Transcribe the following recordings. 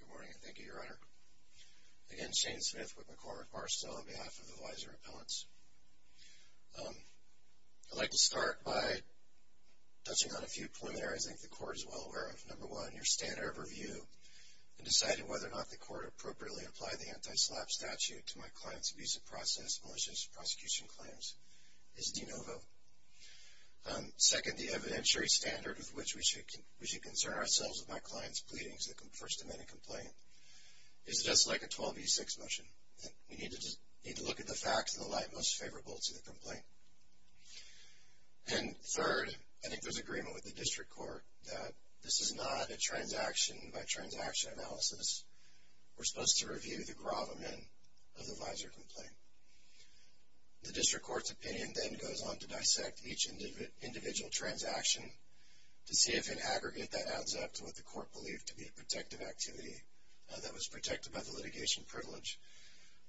Good morning and thank you, Your Honor. Again, Shane Smith with McCormick Barstow on behalf of the Weiser Appellants. I'd like to start by touching on a few preliminaries I think the Court is well aware of. Number one, your standard of review in deciding whether or not the Court appropriately applied the anti-SLAPP statute to my client's abuse of process, malicious prosecution claims is de novo. Second, the evidentiary standard with which we should concern ourselves with my client's pleadings that confers to an amended complaint is just like a 12v6 motion. We need to look at the facts in the light most favorable to the complaint. And third, I think there's agreement with the District Court that this is not a transaction-by-transaction analysis. We're supposed to review the gravamen of the Weiser complaint. The District Court's opinion then goes on to dissect each individual transaction to see if in aggregate that adds up to what the Court believed to be a protective activity that was protected by the litigation privilege.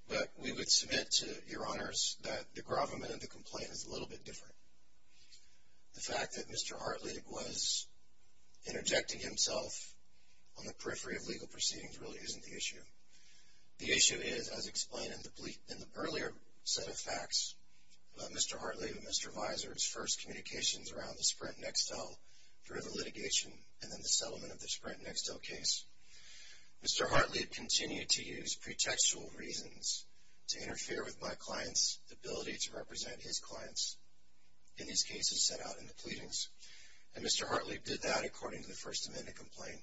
But we would submit to Your Honors that the gravamen of the complaint is a little bit different. The fact that Mr. Hartleib was interjecting himself on the periphery of legal proceedings really isn't the issue. The issue is, as explained in the earlier set of facts about Mr. Hartleib and Mr. Weiser's first communications around the Sprint Nextel during the litigation and then the settlement of the Sprint Nextel case, Mr. Hartleib continued to use pretextual reasons to interfere with my client's ability to represent his clients in these cases set out in the pleadings. And Mr. Hartleib did that according to the First Amendment complaint.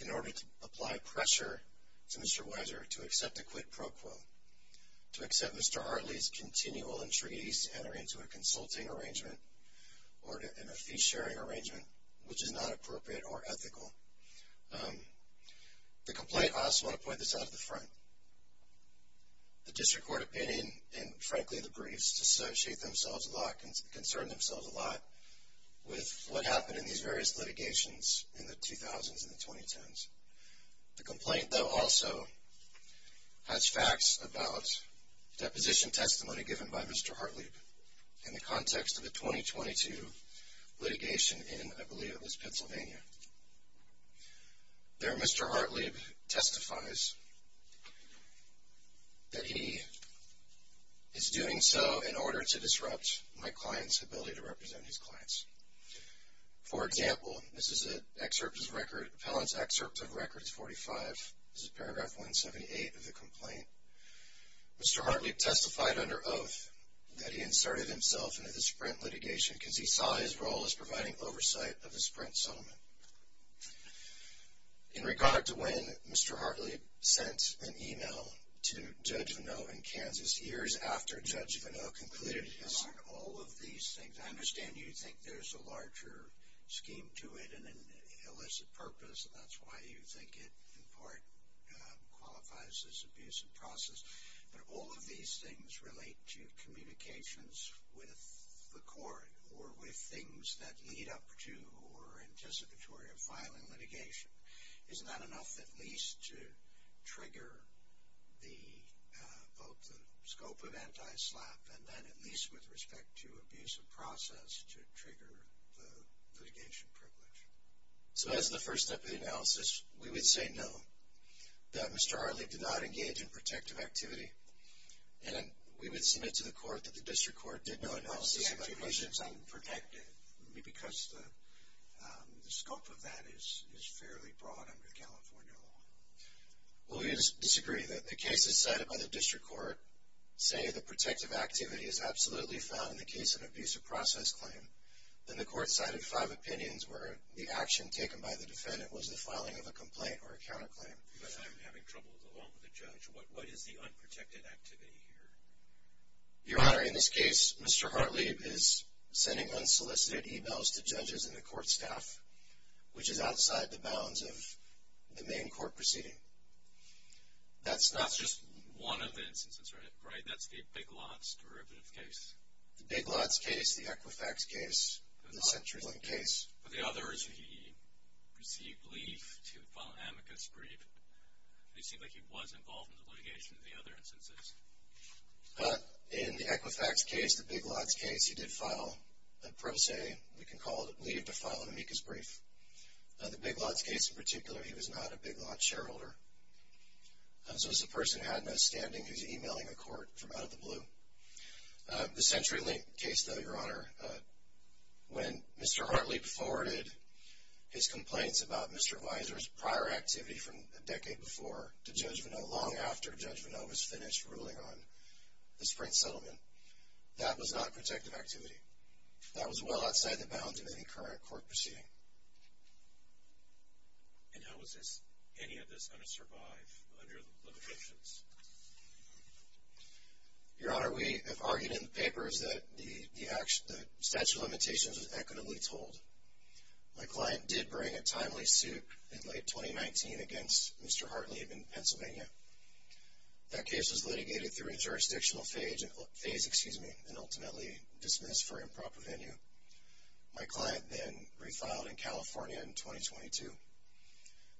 In order to apply pressure to Mr. Weiser to accept a quid pro quo, to accept Mr. Hartleib's continual entreaties to enter into a consulting arrangement or in a fee-sharing arrangement, which is not appropriate or ethical. The complaint, I also want to point this out at the front. The District Court opinion and, frankly, the briefs, concern themselves a lot with what happened in these various litigations in the 2000s and the 2010s. The complaint, though, also has facts about deposition testimony given by Mr. Hartleib in the context of the 2022 litigation in, I believe it was Pennsylvania. There, Mr. Hartleib testifies that he is doing so in order to disrupt my client's ability to represent his clients. For example, this is an excerpt of records, Appellant's excerpt of records 45. This is paragraph 178 of the complaint. Mr. Hartleib testified under oath that he inserted himself into the Sprint litigation because he saw his role as providing oversight of the Sprint settlement. In regard to when Mr. Hartleib sent an e-mail to Judge Vanot in Kansas years after Judge Vanot completed his… And on all of these things, I understand you think there's a larger scheme to it and an illicit purpose, and that's why you think it, in part, qualifies as an abusive process. But all of these things relate to communications with the court or with things that lead up to or are anticipatory of filing litigation. Isn't that enough at least to trigger both the scope of anti-SLAPP and then at least with respect to abusive process to trigger the litigation privilege? So that's the first step of the analysis. We would say no, that Mr. Hartleib did not engage in protective activity. And we would submit to the court that the district court did no analysis of… The activation is unprotected because the scope of that is fairly broad under the California law. Well, we would disagree that the cases cited by the district court say the protective activity is absolutely found in the case of an abusive process claim. Then the court cited five opinions where the action taken by the defendant was the filing of a complaint or a counterclaim. But I'm having trouble along with the judge. What is the unprotected activity here? Your Honor, in this case, Mr. Hartleib is sending unsolicited e-mails to judges and the court staff, which is outside the bounds of the main court proceeding. That's just one of the instances, right? That's the Big Lots derivative case. The Big Lots case, the Equifax case, the CenturyLink case. For the others, he received leave to file an amicus brief. It seemed like he was involved in the litigation of the other instances. In the Equifax case, the Big Lots case, he did file a pro se. We can call it leave to file an amicus brief. The Big Lots case in particular, he was not a Big Lots shareholder. So it's a person who had no standing who's e-mailing a court from out of the blue. The CenturyLink case, though, Your Honor, when Mr. Hartleib forwarded his complaints about Mr. Weiser's prior activity from a decade before to Judge Vanot, long after Judge Vanot was finished ruling on the Sprint settlement, that was not protective activity. That was well outside the bounds of any current court proceeding. And how is this, any of this, going to survive under the limitations? Your Honor, we have argued in the papers that the statute of limitations was equitably told. My client did bring a timely suit in late 2019 against Mr. Hartleib in Pennsylvania. That case was litigated through a jurisdictional phase and ultimately dismissed for improper venue. My client then refiled in California in 2022. And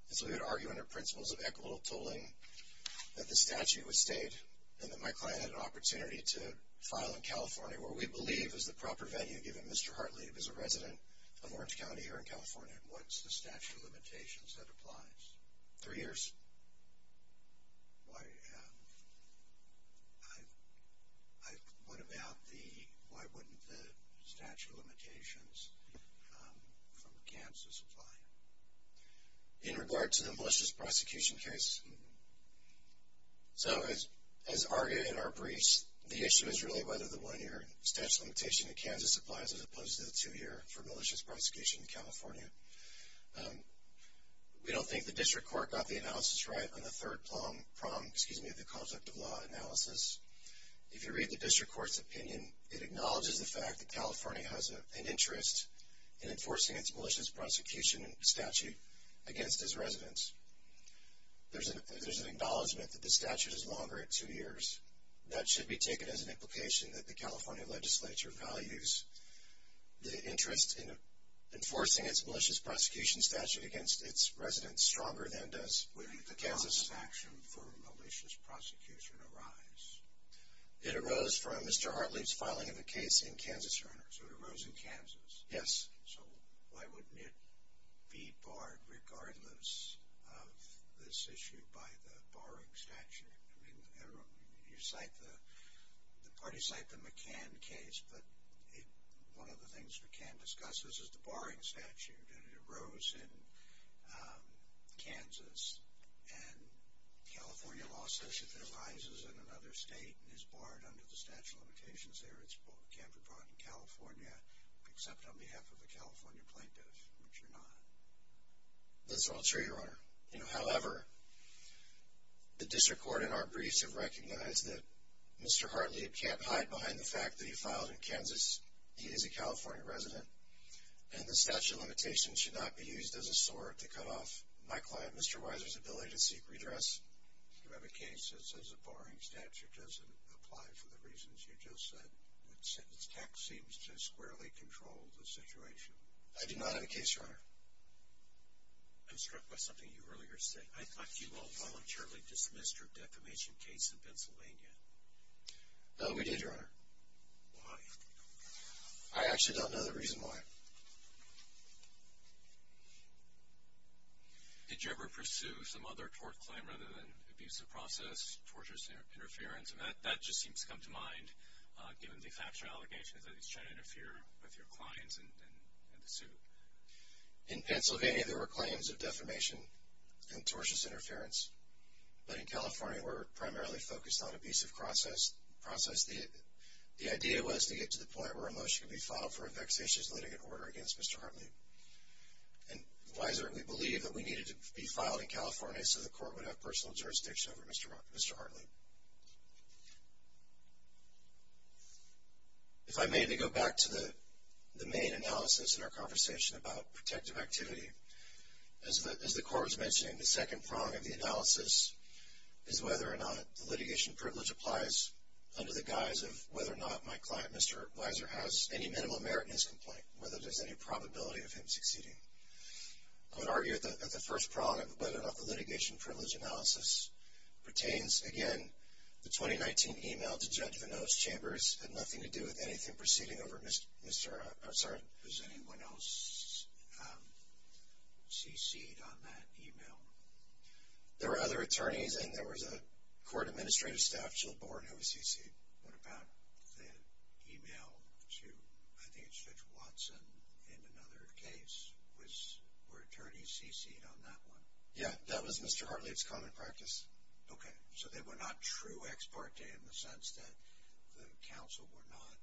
so we had argued under principles of equitable tolling that the statute was stayed and that my client had an opportunity to file in California, where we believe is the proper venue given Mr. Hartleib is a resident of Orange County here in California. What's the statute of limitations that applies? Three years. Why, what about the, why wouldn't the statute of limitations from Kansas apply? In regard to the malicious prosecution case? So as argued in our briefs, the issue is really whether the one-year statute of limitation in Kansas applies as opposed to the two-year for malicious prosecution in California. We don't think the district court got the analysis right on the third prong, excuse me, of the conflict of law analysis. If you read the district court's opinion, it acknowledges the fact that California has an interest in enforcing its malicious prosecution statute against its residents. There's an acknowledgment that the statute is longer at two years. That should be taken as an implication that the California legislature values the interest in enforcing its malicious prosecution statute against its residents stronger than does Kansas. When did the California action for malicious prosecution arise? It arose from Mr. Hartleib's filing of the case in Kansas, Your Honor. So it arose in Kansas? Yes. So why wouldn't it be barred regardless of this issue by the barring statute? I mean, you cite the, the parties cite the McCann case, but one of the things McCann discusses is the barring statute, and it arose in Kansas. And California law says if it arises in another state and is barred under the statute of limitations there, it can't be brought in California except on behalf of a California plaintiff, which you're not. That's not true, Your Honor. You know, however, the district court in our briefs have recognized that Mr. Hartleib can't hide behind the fact that he filed in Kansas, he is a California resident, and the statute of limitations should not be used as a sword to cut off my client, Mr. Weiser's, ability to seek redress. You have a case that says a barring statute doesn't apply for the reasons you just said. It seems to squarely control the situation. I do not have a case, Your Honor. I'm struck by something you earlier said. I thought you all voluntarily dismissed your defamation case in Pennsylvania. No, we did, Your Honor. Why? I actually don't know the reason why. Did you ever pursue some other tort claim other than abuse of process, tortious interference, and that just seems to come to mind given the factual allegations that he's trying to interfere with your clients and the suit? In Pennsylvania, there were claims of defamation and tortious interference, but in California we're primarily focused on abuse of process. The idea was to get to the point where a motion could be filed for a vexatious litigant order against Mr. Hartleib. And Weiser and we believed that we needed to be filed in California so the court would have personal jurisdiction over Mr. Hartleib. If I may, to go back to the main analysis in our conversation about protective activity, as the court was mentioning, the second prong of the analysis is whether or not the litigation privilege applies under the guise of whether or not my client, Mr. Weiser, has any minimal merit in his complaint, whether there's any probability of him succeeding. I would argue that the first prong of whether or not the litigation privilege analysis pertains, again, the 2019 email to Judge Vino's chambers had nothing to do with anything proceeding over Mr. Hartleib. Does anyone else cc'd on that email? There were other attorneys and there was a court administrative staff, Jill Born, who cc'd. What about the email to, I think it's Judge Watson, in another case? Were attorneys cc'd on that one? Yeah, that was Mr. Hartleib's common practice. Okay. So they were not true ex parte in the sense that the counsel were not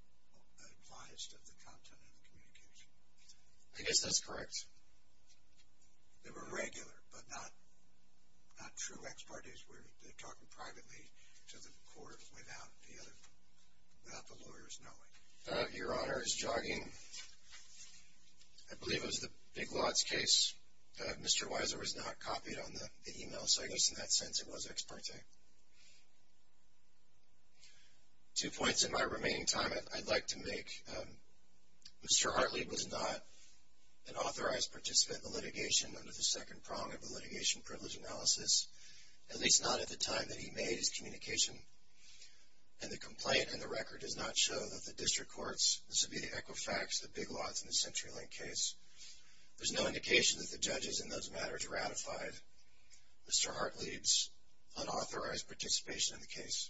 advised of the content of the communication. I guess that's correct. They were regular but not true ex parte. They were talking privately to the court without the lawyers knowing. Your Honor, as jogging, I believe it was the Big Lots case, Mr. Weiser was not copied on the email, so I guess in that sense it was ex parte. Two points in my remaining time I'd like to make. Mr. Hartleib was not an authorized participant in the litigation under the second prong of the litigation privilege analysis, at least not at the time that he made his communication. And the complaint in the record does not show that the district courts, this would be the Equifax, the Big Lots, and the CenturyLink case. There's no indication that the judges in those matters ratified Mr. Hartleib's unauthorized participation in the case.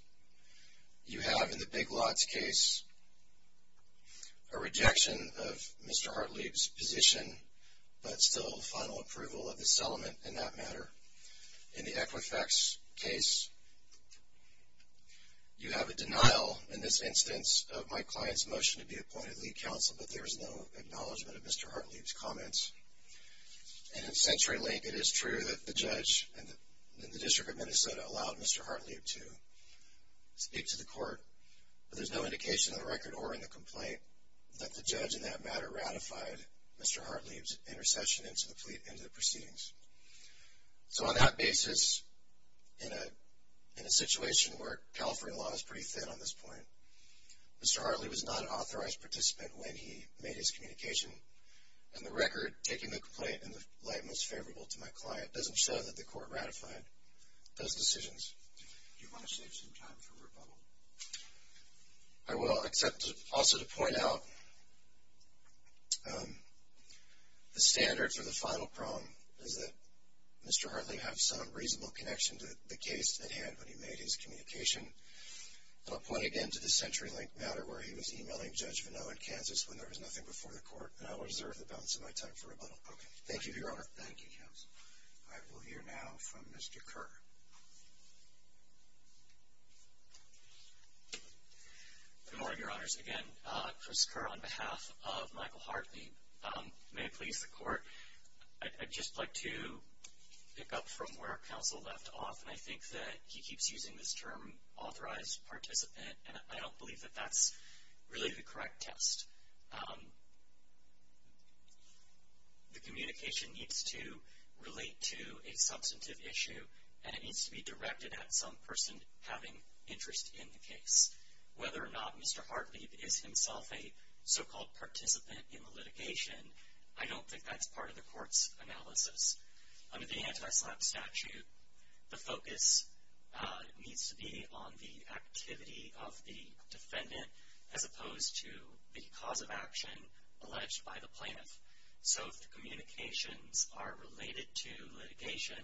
You have in the Big Lots case a rejection of Mr. Hartleib's position, but still final approval of the settlement in that matter. In the Equifax case, you have a denial in this instance of my client's motion to be appointed lead counsel, but there is no acknowledgment of Mr. Hartleib's comments. And in CenturyLink, it is true that the judge in the District of Minnesota allowed Mr. Hartleib to speak to the court, but there's no indication in the record or in the complaint that the judge in that matter ratified Mr. Hartleib's intercession into the proceedings. So on that basis, in a situation where California law is pretty thin on this point, Mr. Hartleib was not an authorized participant when he made his communication, and the record taking the complaint in the light most favorable to my client doesn't show that the court ratified those decisions. Do you want to save some time for rebuttal? I will, except also to point out the standard for the final prong is that Mr. Hartleib had some reasonable connection to the case that he had when he made his communication. I'll point again to the CenturyLink matter where he was e-mailing Judge Vanneau in Kansas when there was nothing before the court, and I will reserve the balance of my time for rebuttal. Okay. Thank you, Your Honor. Thank you, counsel. I will hear now from Mr. Kerr. Good morning, Your Honors. Again, Chris Kerr on behalf of Michael Hartleib. May it please the court, I'd just like to pick up from where counsel left off, and I think that he keeps using this term authorized participant, and I don't believe that that's really the correct test. The communication needs to relate to a substantive issue, and it needs to be directed at some person having interest in the case. Whether or not Mr. Hartleib is himself a so-called participant in the litigation, I don't think that's part of the court's analysis. Under the anti-SLAPP statute, the focus needs to be on the activity of the defendant, as opposed to the cause of action alleged by the plaintiff. So if the communications are related to litigation,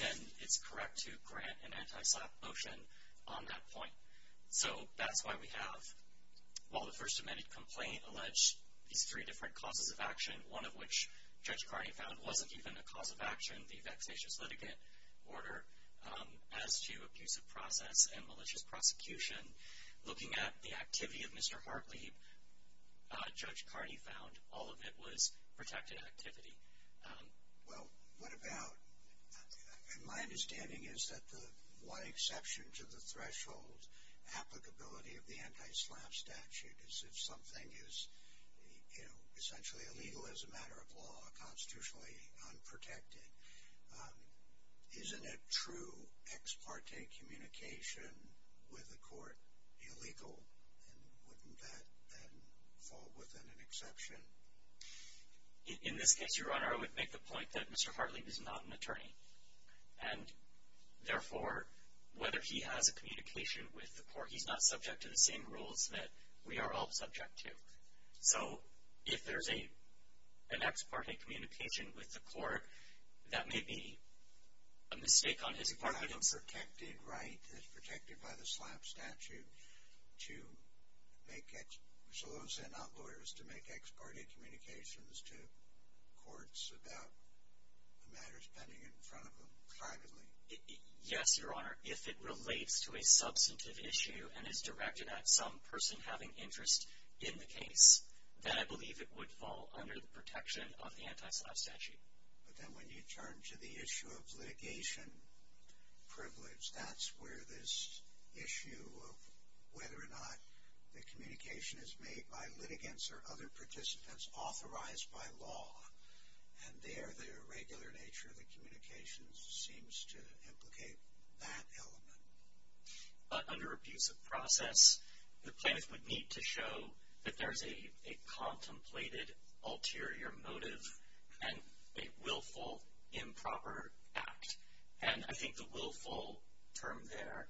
then it's correct to grant an anti-SLAPP motion on that point. So that's why we have, while the First Amendment complaint alleged these three different causes of action, one of which Judge Cardi found wasn't even a cause of action, the vexatious litigant order, as to abusive process and malicious prosecution, looking at the activity of Mr. Hartleib, Judge Cardi found all of it was protected activity. Well, what about, in my understanding, is that the one exception to the threshold applicability of the anti-SLAPP statute is if something is essentially illegal as a matter of law, constitutionally unprotected. Isn't a true ex parte communication with the court illegal? And wouldn't that then fall within an exception? In this case, Your Honor, I would make the point that Mr. Hartleib is not an attorney. And therefore, whether he has a communication with the court, he's not subject to the same rules that we are all subject to. So if there's an ex parte communication with the court, that may be a mistake on his part. He might have a protected right, as protected by the SLAPP statute, to make ex parte communications to courts about the matters pending in front of them, privately. Yes, Your Honor, if it relates to a substantive issue and is directed at some person having interest in the case, then I believe it would fall under the protection of the anti-SLAPP statute. But then when you turn to the issue of litigation privilege, that's where this issue of whether or not the communication is made by litigants or other participants authorized by law, and there the irregular nature of the communications seems to implicate that element. But under abuse of process, the plaintiff would need to show that there's a contemplated ulterior motive and a willful improper act. And I think the willful term there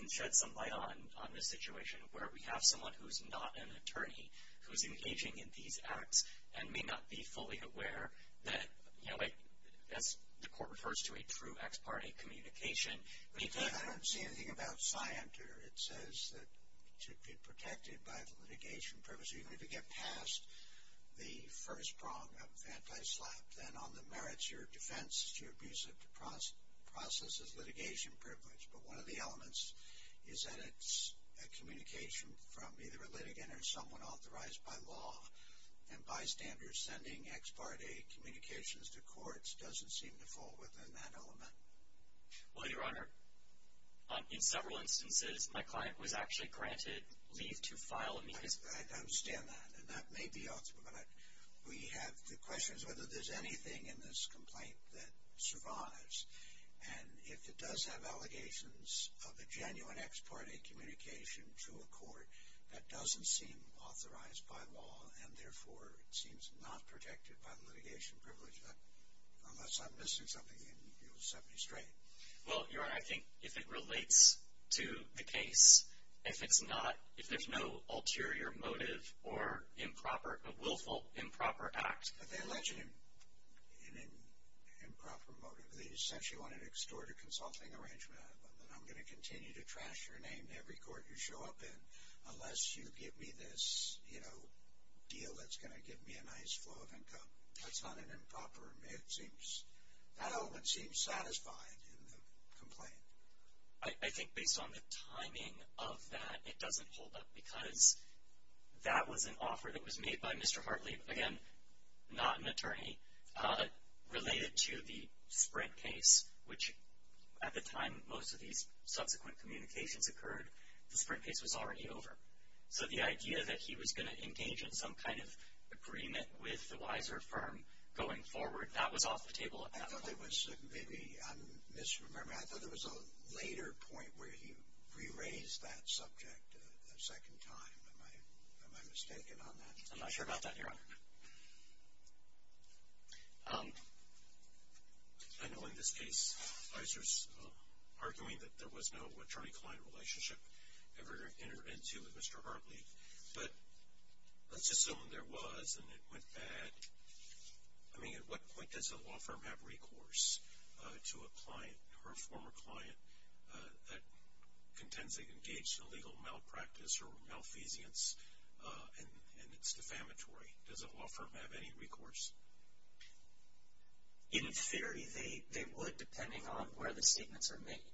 can shed some light on the situation where we have someone who's not an attorney who's engaging in these acts and may not be fully aware that, you know, as the court refers to a true ex parte communication. I don't see anything about scienter. It says that it should be protected by the litigation privilege. So you're going to get past the first prong of anti-SLAPP. Then on the merits, your defense is to abuse of process as litigation privilege. But one of the elements is that it's a communication from either a litigant or someone authorized by law. And bystanders sending ex parte communications to courts doesn't seem to fall within that element. Well, Your Honor, in several instances, my client was actually granted leave to file amicus. I understand that. And that may be off, but we have the questions whether there's anything in this complaint that survives. And if it does have allegations of a genuine ex parte communication to a court, that doesn't seem authorized by law and, therefore, it seems not protected by the litigation privilege. Unless I'm missing something and you'll set me straight. Well, Your Honor, I think if it relates to the case, if it's not, if there's no ulterior motive or improper, a willful improper act. But they allege an improper motive. They essentially wanted to extort a consulting arrangement out of them. And I'm going to continue to trash your name to every court you show up in unless you give me this, you know, deal that's going to give me a nice flow of income. That's not an improper. It seems, that element seems satisfied in the complaint. I think based on the timing of that, it doesn't hold up. Because that was an offer that was made by Mr. Hartley. Again, not an attorney. Related to the Sprint case, which at the time most of these subsequent communications occurred, the Sprint case was already over. So the idea that he was going to engage in some kind of agreement with the Weiser firm going forward, that was off the table at that point. I thought there was maybe, I'm misremembering, I thought there was a later point where he re-raised that subject a second time. Am I mistaken on that? I'm not sure about that, Your Honor. I know in this case, Weiser's arguing that there was no attorney-client relationship ever entered into with Mr. Hartley. But let's assume there was and it went bad. I mean, at what point does a law firm have recourse to a client or a former client that contends they engaged in illegal malpractice or malfeasance and it's defamatory? Does a law firm have any recourse? In theory, they would, depending on where the statements are made.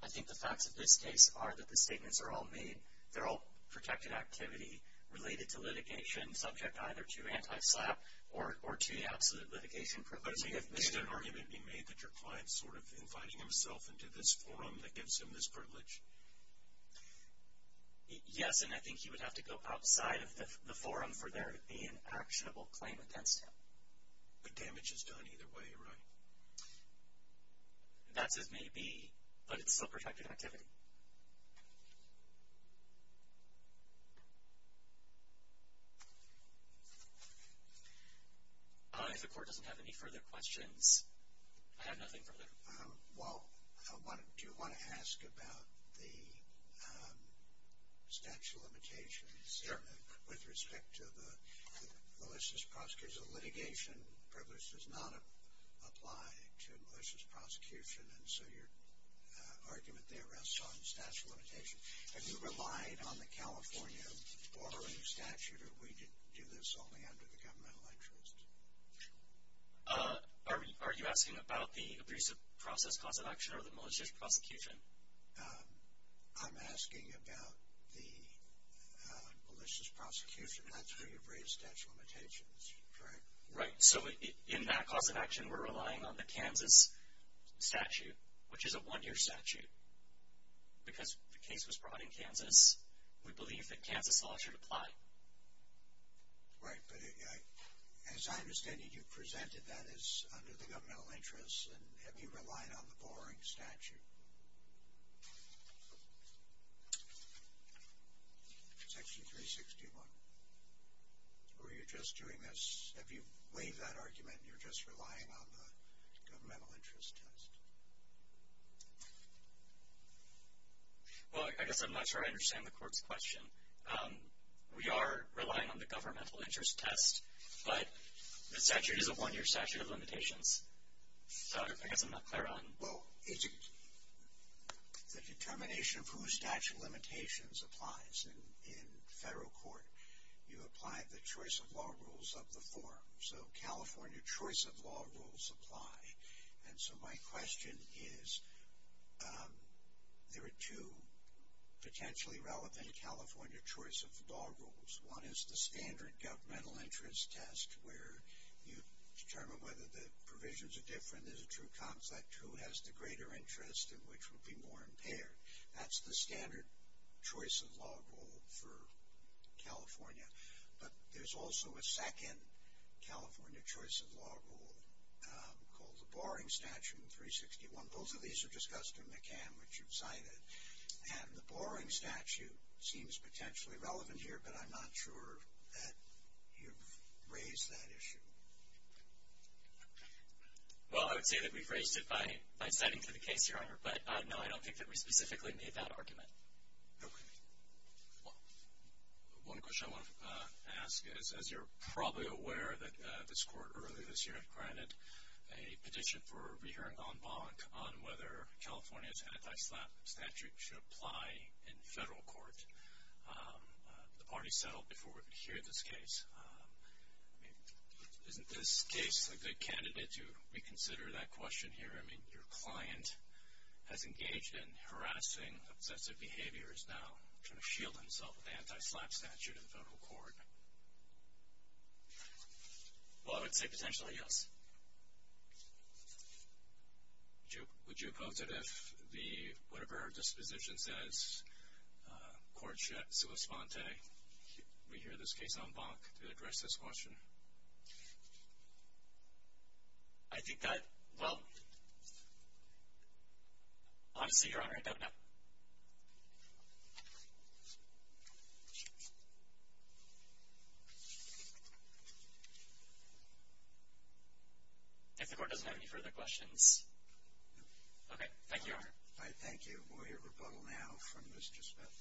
I think the facts of this case are that the statements are all made. They're all protected activity related to litigation, subject either to anti-SLAPP or to the absolute litigation provision. Could an argument be made that your client's sort of inviting himself into this forum that gives him this privilege? Yes, and I think he would have to go outside of the forum for there to be an actionable claim against him. But damage is done either way, right? That's as may be, but it's still protected activity. If the court doesn't have any further questions, I have nothing further. Well, do you want to ask about the statute of limitations with respect to the malicious prosecution? Litigation privilege does not apply to malicious prosecution, and so your argument there rests on the statute of limitations. Have you relied on the California borrowing statute, or do we do this only under the governmental interest? Are you asking about the abusive process cause of action or the malicious prosecution? I'm asking about the malicious prosecution. That's where you've raised statute of limitations, correct? Right, so in that cause of action, we're relying on the Kansas statute, which is a one-year statute. Because the case was brought in Kansas, we believe that Kansas law should apply. Right, but as I understand it, you presented that as under the governmental interest, and have you relied on the borrowing statute? Section 361. Or are you just doing this—have you waived that argument, and you're just relying on the governmental interest test? Well, I guess I'm not sure I understand the court's question. We are relying on the governmental interest test, but the statute is a one-year statute of limitations. So I guess I'm not clear on— Well, the determination of whose statute of limitations applies in federal court, you apply the choice of law rules of the forum. So California choice of law rules apply. And so my question is, there are two potentially relevant California choice of law rules. One is the standard governmental interest test, where you determine whether the provisions are different, is it a true concept, who has the greater interest and which would be more impaired. That's the standard choice of law rule for California. But there's also a second California choice of law rule called the borrowing statute in 361. Both of these are discussed in McCann, which you've cited. And the borrowing statute seems potentially relevant here, but I'm not sure that you've raised that issue. Well, I would say that we've raised it by citing for the case, Your Honor, but no, I don't think that we specifically made that argument. Okay. Well, one question I want to ask is, as you're probably aware, that this court earlier this year granted a petition for a re-hearing en banc on whether California's anti-SLAP statute should apply in federal court. The party settled before we could hear this case. I mean, isn't this case a good candidate to reconsider that question here? I mean, your client has engaged in harassing obsessive behaviors now, trying to shield himself with the anti-SLAP statute in federal court. Well, I would say potentially yes. Would you oppose it if whatever our disposition says, court sui sponte, that we hear this case en banc to address this question? I think that, well, honestly, Your Honor, I don't know. If the court doesn't have any further questions. All right. Thank you. We'll hear rebuttal now from Mr. Smith.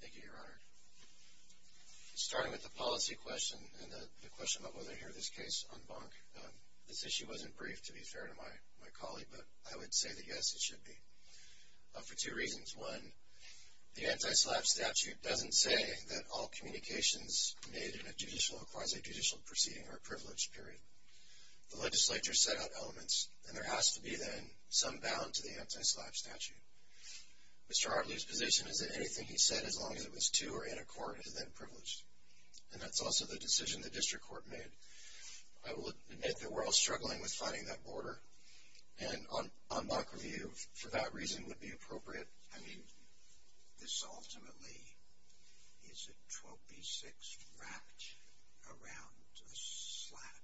Thank you, Your Honor. Starting with the policy question and the question about whether to hear this case en banc, this issue wasn't briefed, to be fair to my colleague, but I would say that yes, it should be, for two reasons. One, the anti-SLAP statute doesn't say that all communications made in a judicial or quasi-judicial proceeding are privileged, period. The legislature set out elements, and there has to be then some bound to the anti-SLAP statute. Mr. Hartley's position is that anything he said, as long as it was to or in a court, is then privileged. And that's also the decision the district court made. I will admit that we're all struggling with finding that border, and en banc review, for that reason, would be appropriate. I mean, this ultimately is a 12b-6 wrapped around a SLAP.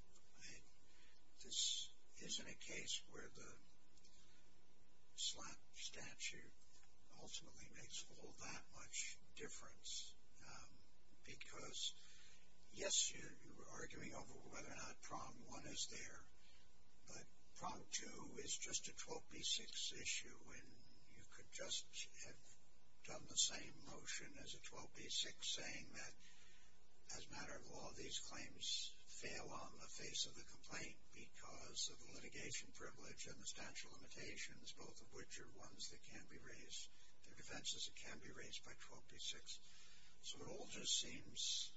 This isn't a case where the SLAP statute ultimately makes all that much difference. Because, yes, you're arguing over whether or not prong one is there, but prong two is just a 12b-6 issue, and you could just have done the same motion as a 12b-6, saying that, as a matter of law, these claims fail on the face of the complaint because of the litigation privilege and the statute limitations, both of which are ones that can be raised, the defenses that can be raised by 12b-6. So it all just seems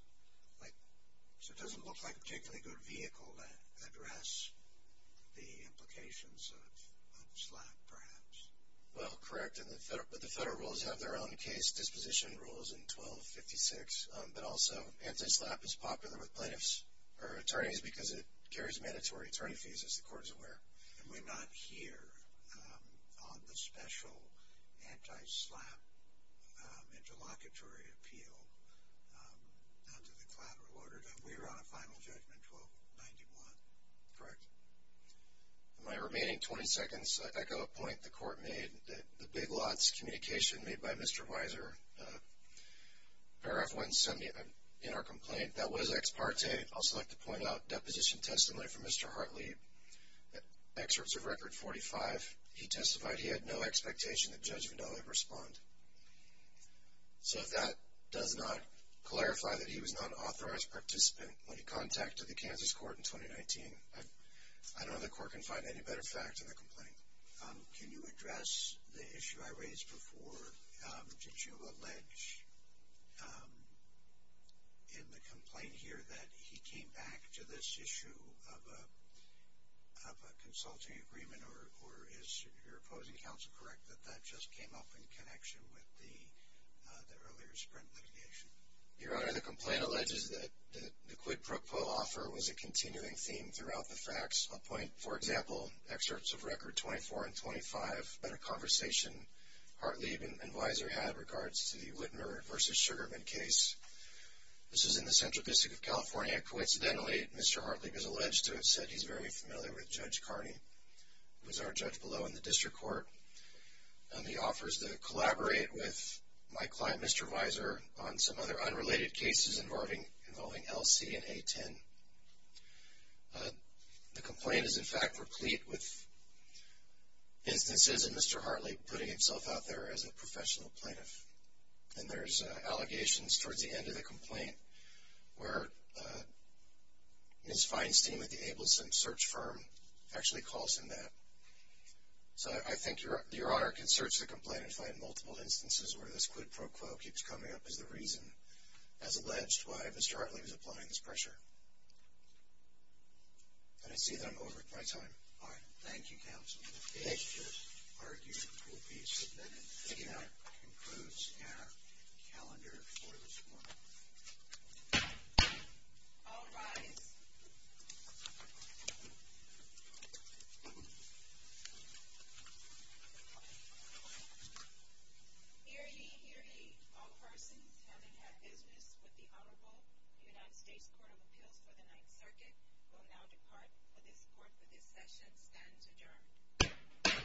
like it doesn't look like a particularly good vehicle to address the implications of SLAP, perhaps. Well, correct, but the federal rules have their own case disposition rules in 1256. But also anti-SLAP is popular with plaintiffs or attorneys because it carries mandatory attorney fees, as the court is aware. And we're not here on the special anti-SLAP interlocutory appeal under the collateral order. We're on a final judgment 1291, correct? In my remaining 20 seconds, I echo a point the court made, the big lots communication made by Mr. Weiser, paragraph 170, in our complaint. That was ex parte. I'd also like to point out deposition testimony from Mr. Hartley, excerpts of Record 45. He testified he had no expectation that Judge Vindale would respond. So if that does not clarify that he was not an authorized participant when he contacted the Kansas court in 2019, I don't know if the court can find any better fact in the complaint. Can you address the issue I raised before? Did you allege in the complaint here that he came back to this issue of a consulting agreement, or is your opposing counsel correct that that just came up in connection with the earlier Sprint litigation? Your Honor, the complaint alleges that the quid pro quo offer was a continuing theme throughout the facts. I'll point, for example, excerpts of Record 24 and 25, a conversation Hartley and Weiser had in regards to the Whitmer v. Sugarman case. This is in the Central District of California. Coincidentally, Mr. Hartley is alleged to have said he's very familiar with Judge Carney, who is our judge below in the district court. He offers to collaborate with my client, Mr. Weiser, on some other unrelated cases involving LC and A10. The complaint is, in fact, replete with instances of Mr. Hartley putting himself out there as a professional plaintiff. And there's allegations towards the end of the complaint where his fines team at the Abelson search firm actually calls him that. So I think Your Honor can search the complaint and find multiple instances where this quid pro quo keeps coming up which is the reason, as alleged, why Mr. Hartley was applying this pressure. And I see that I'm over my time. All right. Thank you, counsel. Thank you, Judge. The argument will be submitted. Thank you, Your Honor. That concludes our calendar for this morning. All rise. Hear ye, hear ye. All persons having had business with the Honorable United States Court of Appeals for the Ninth Circuit will now depart for this session. Session is adjourned.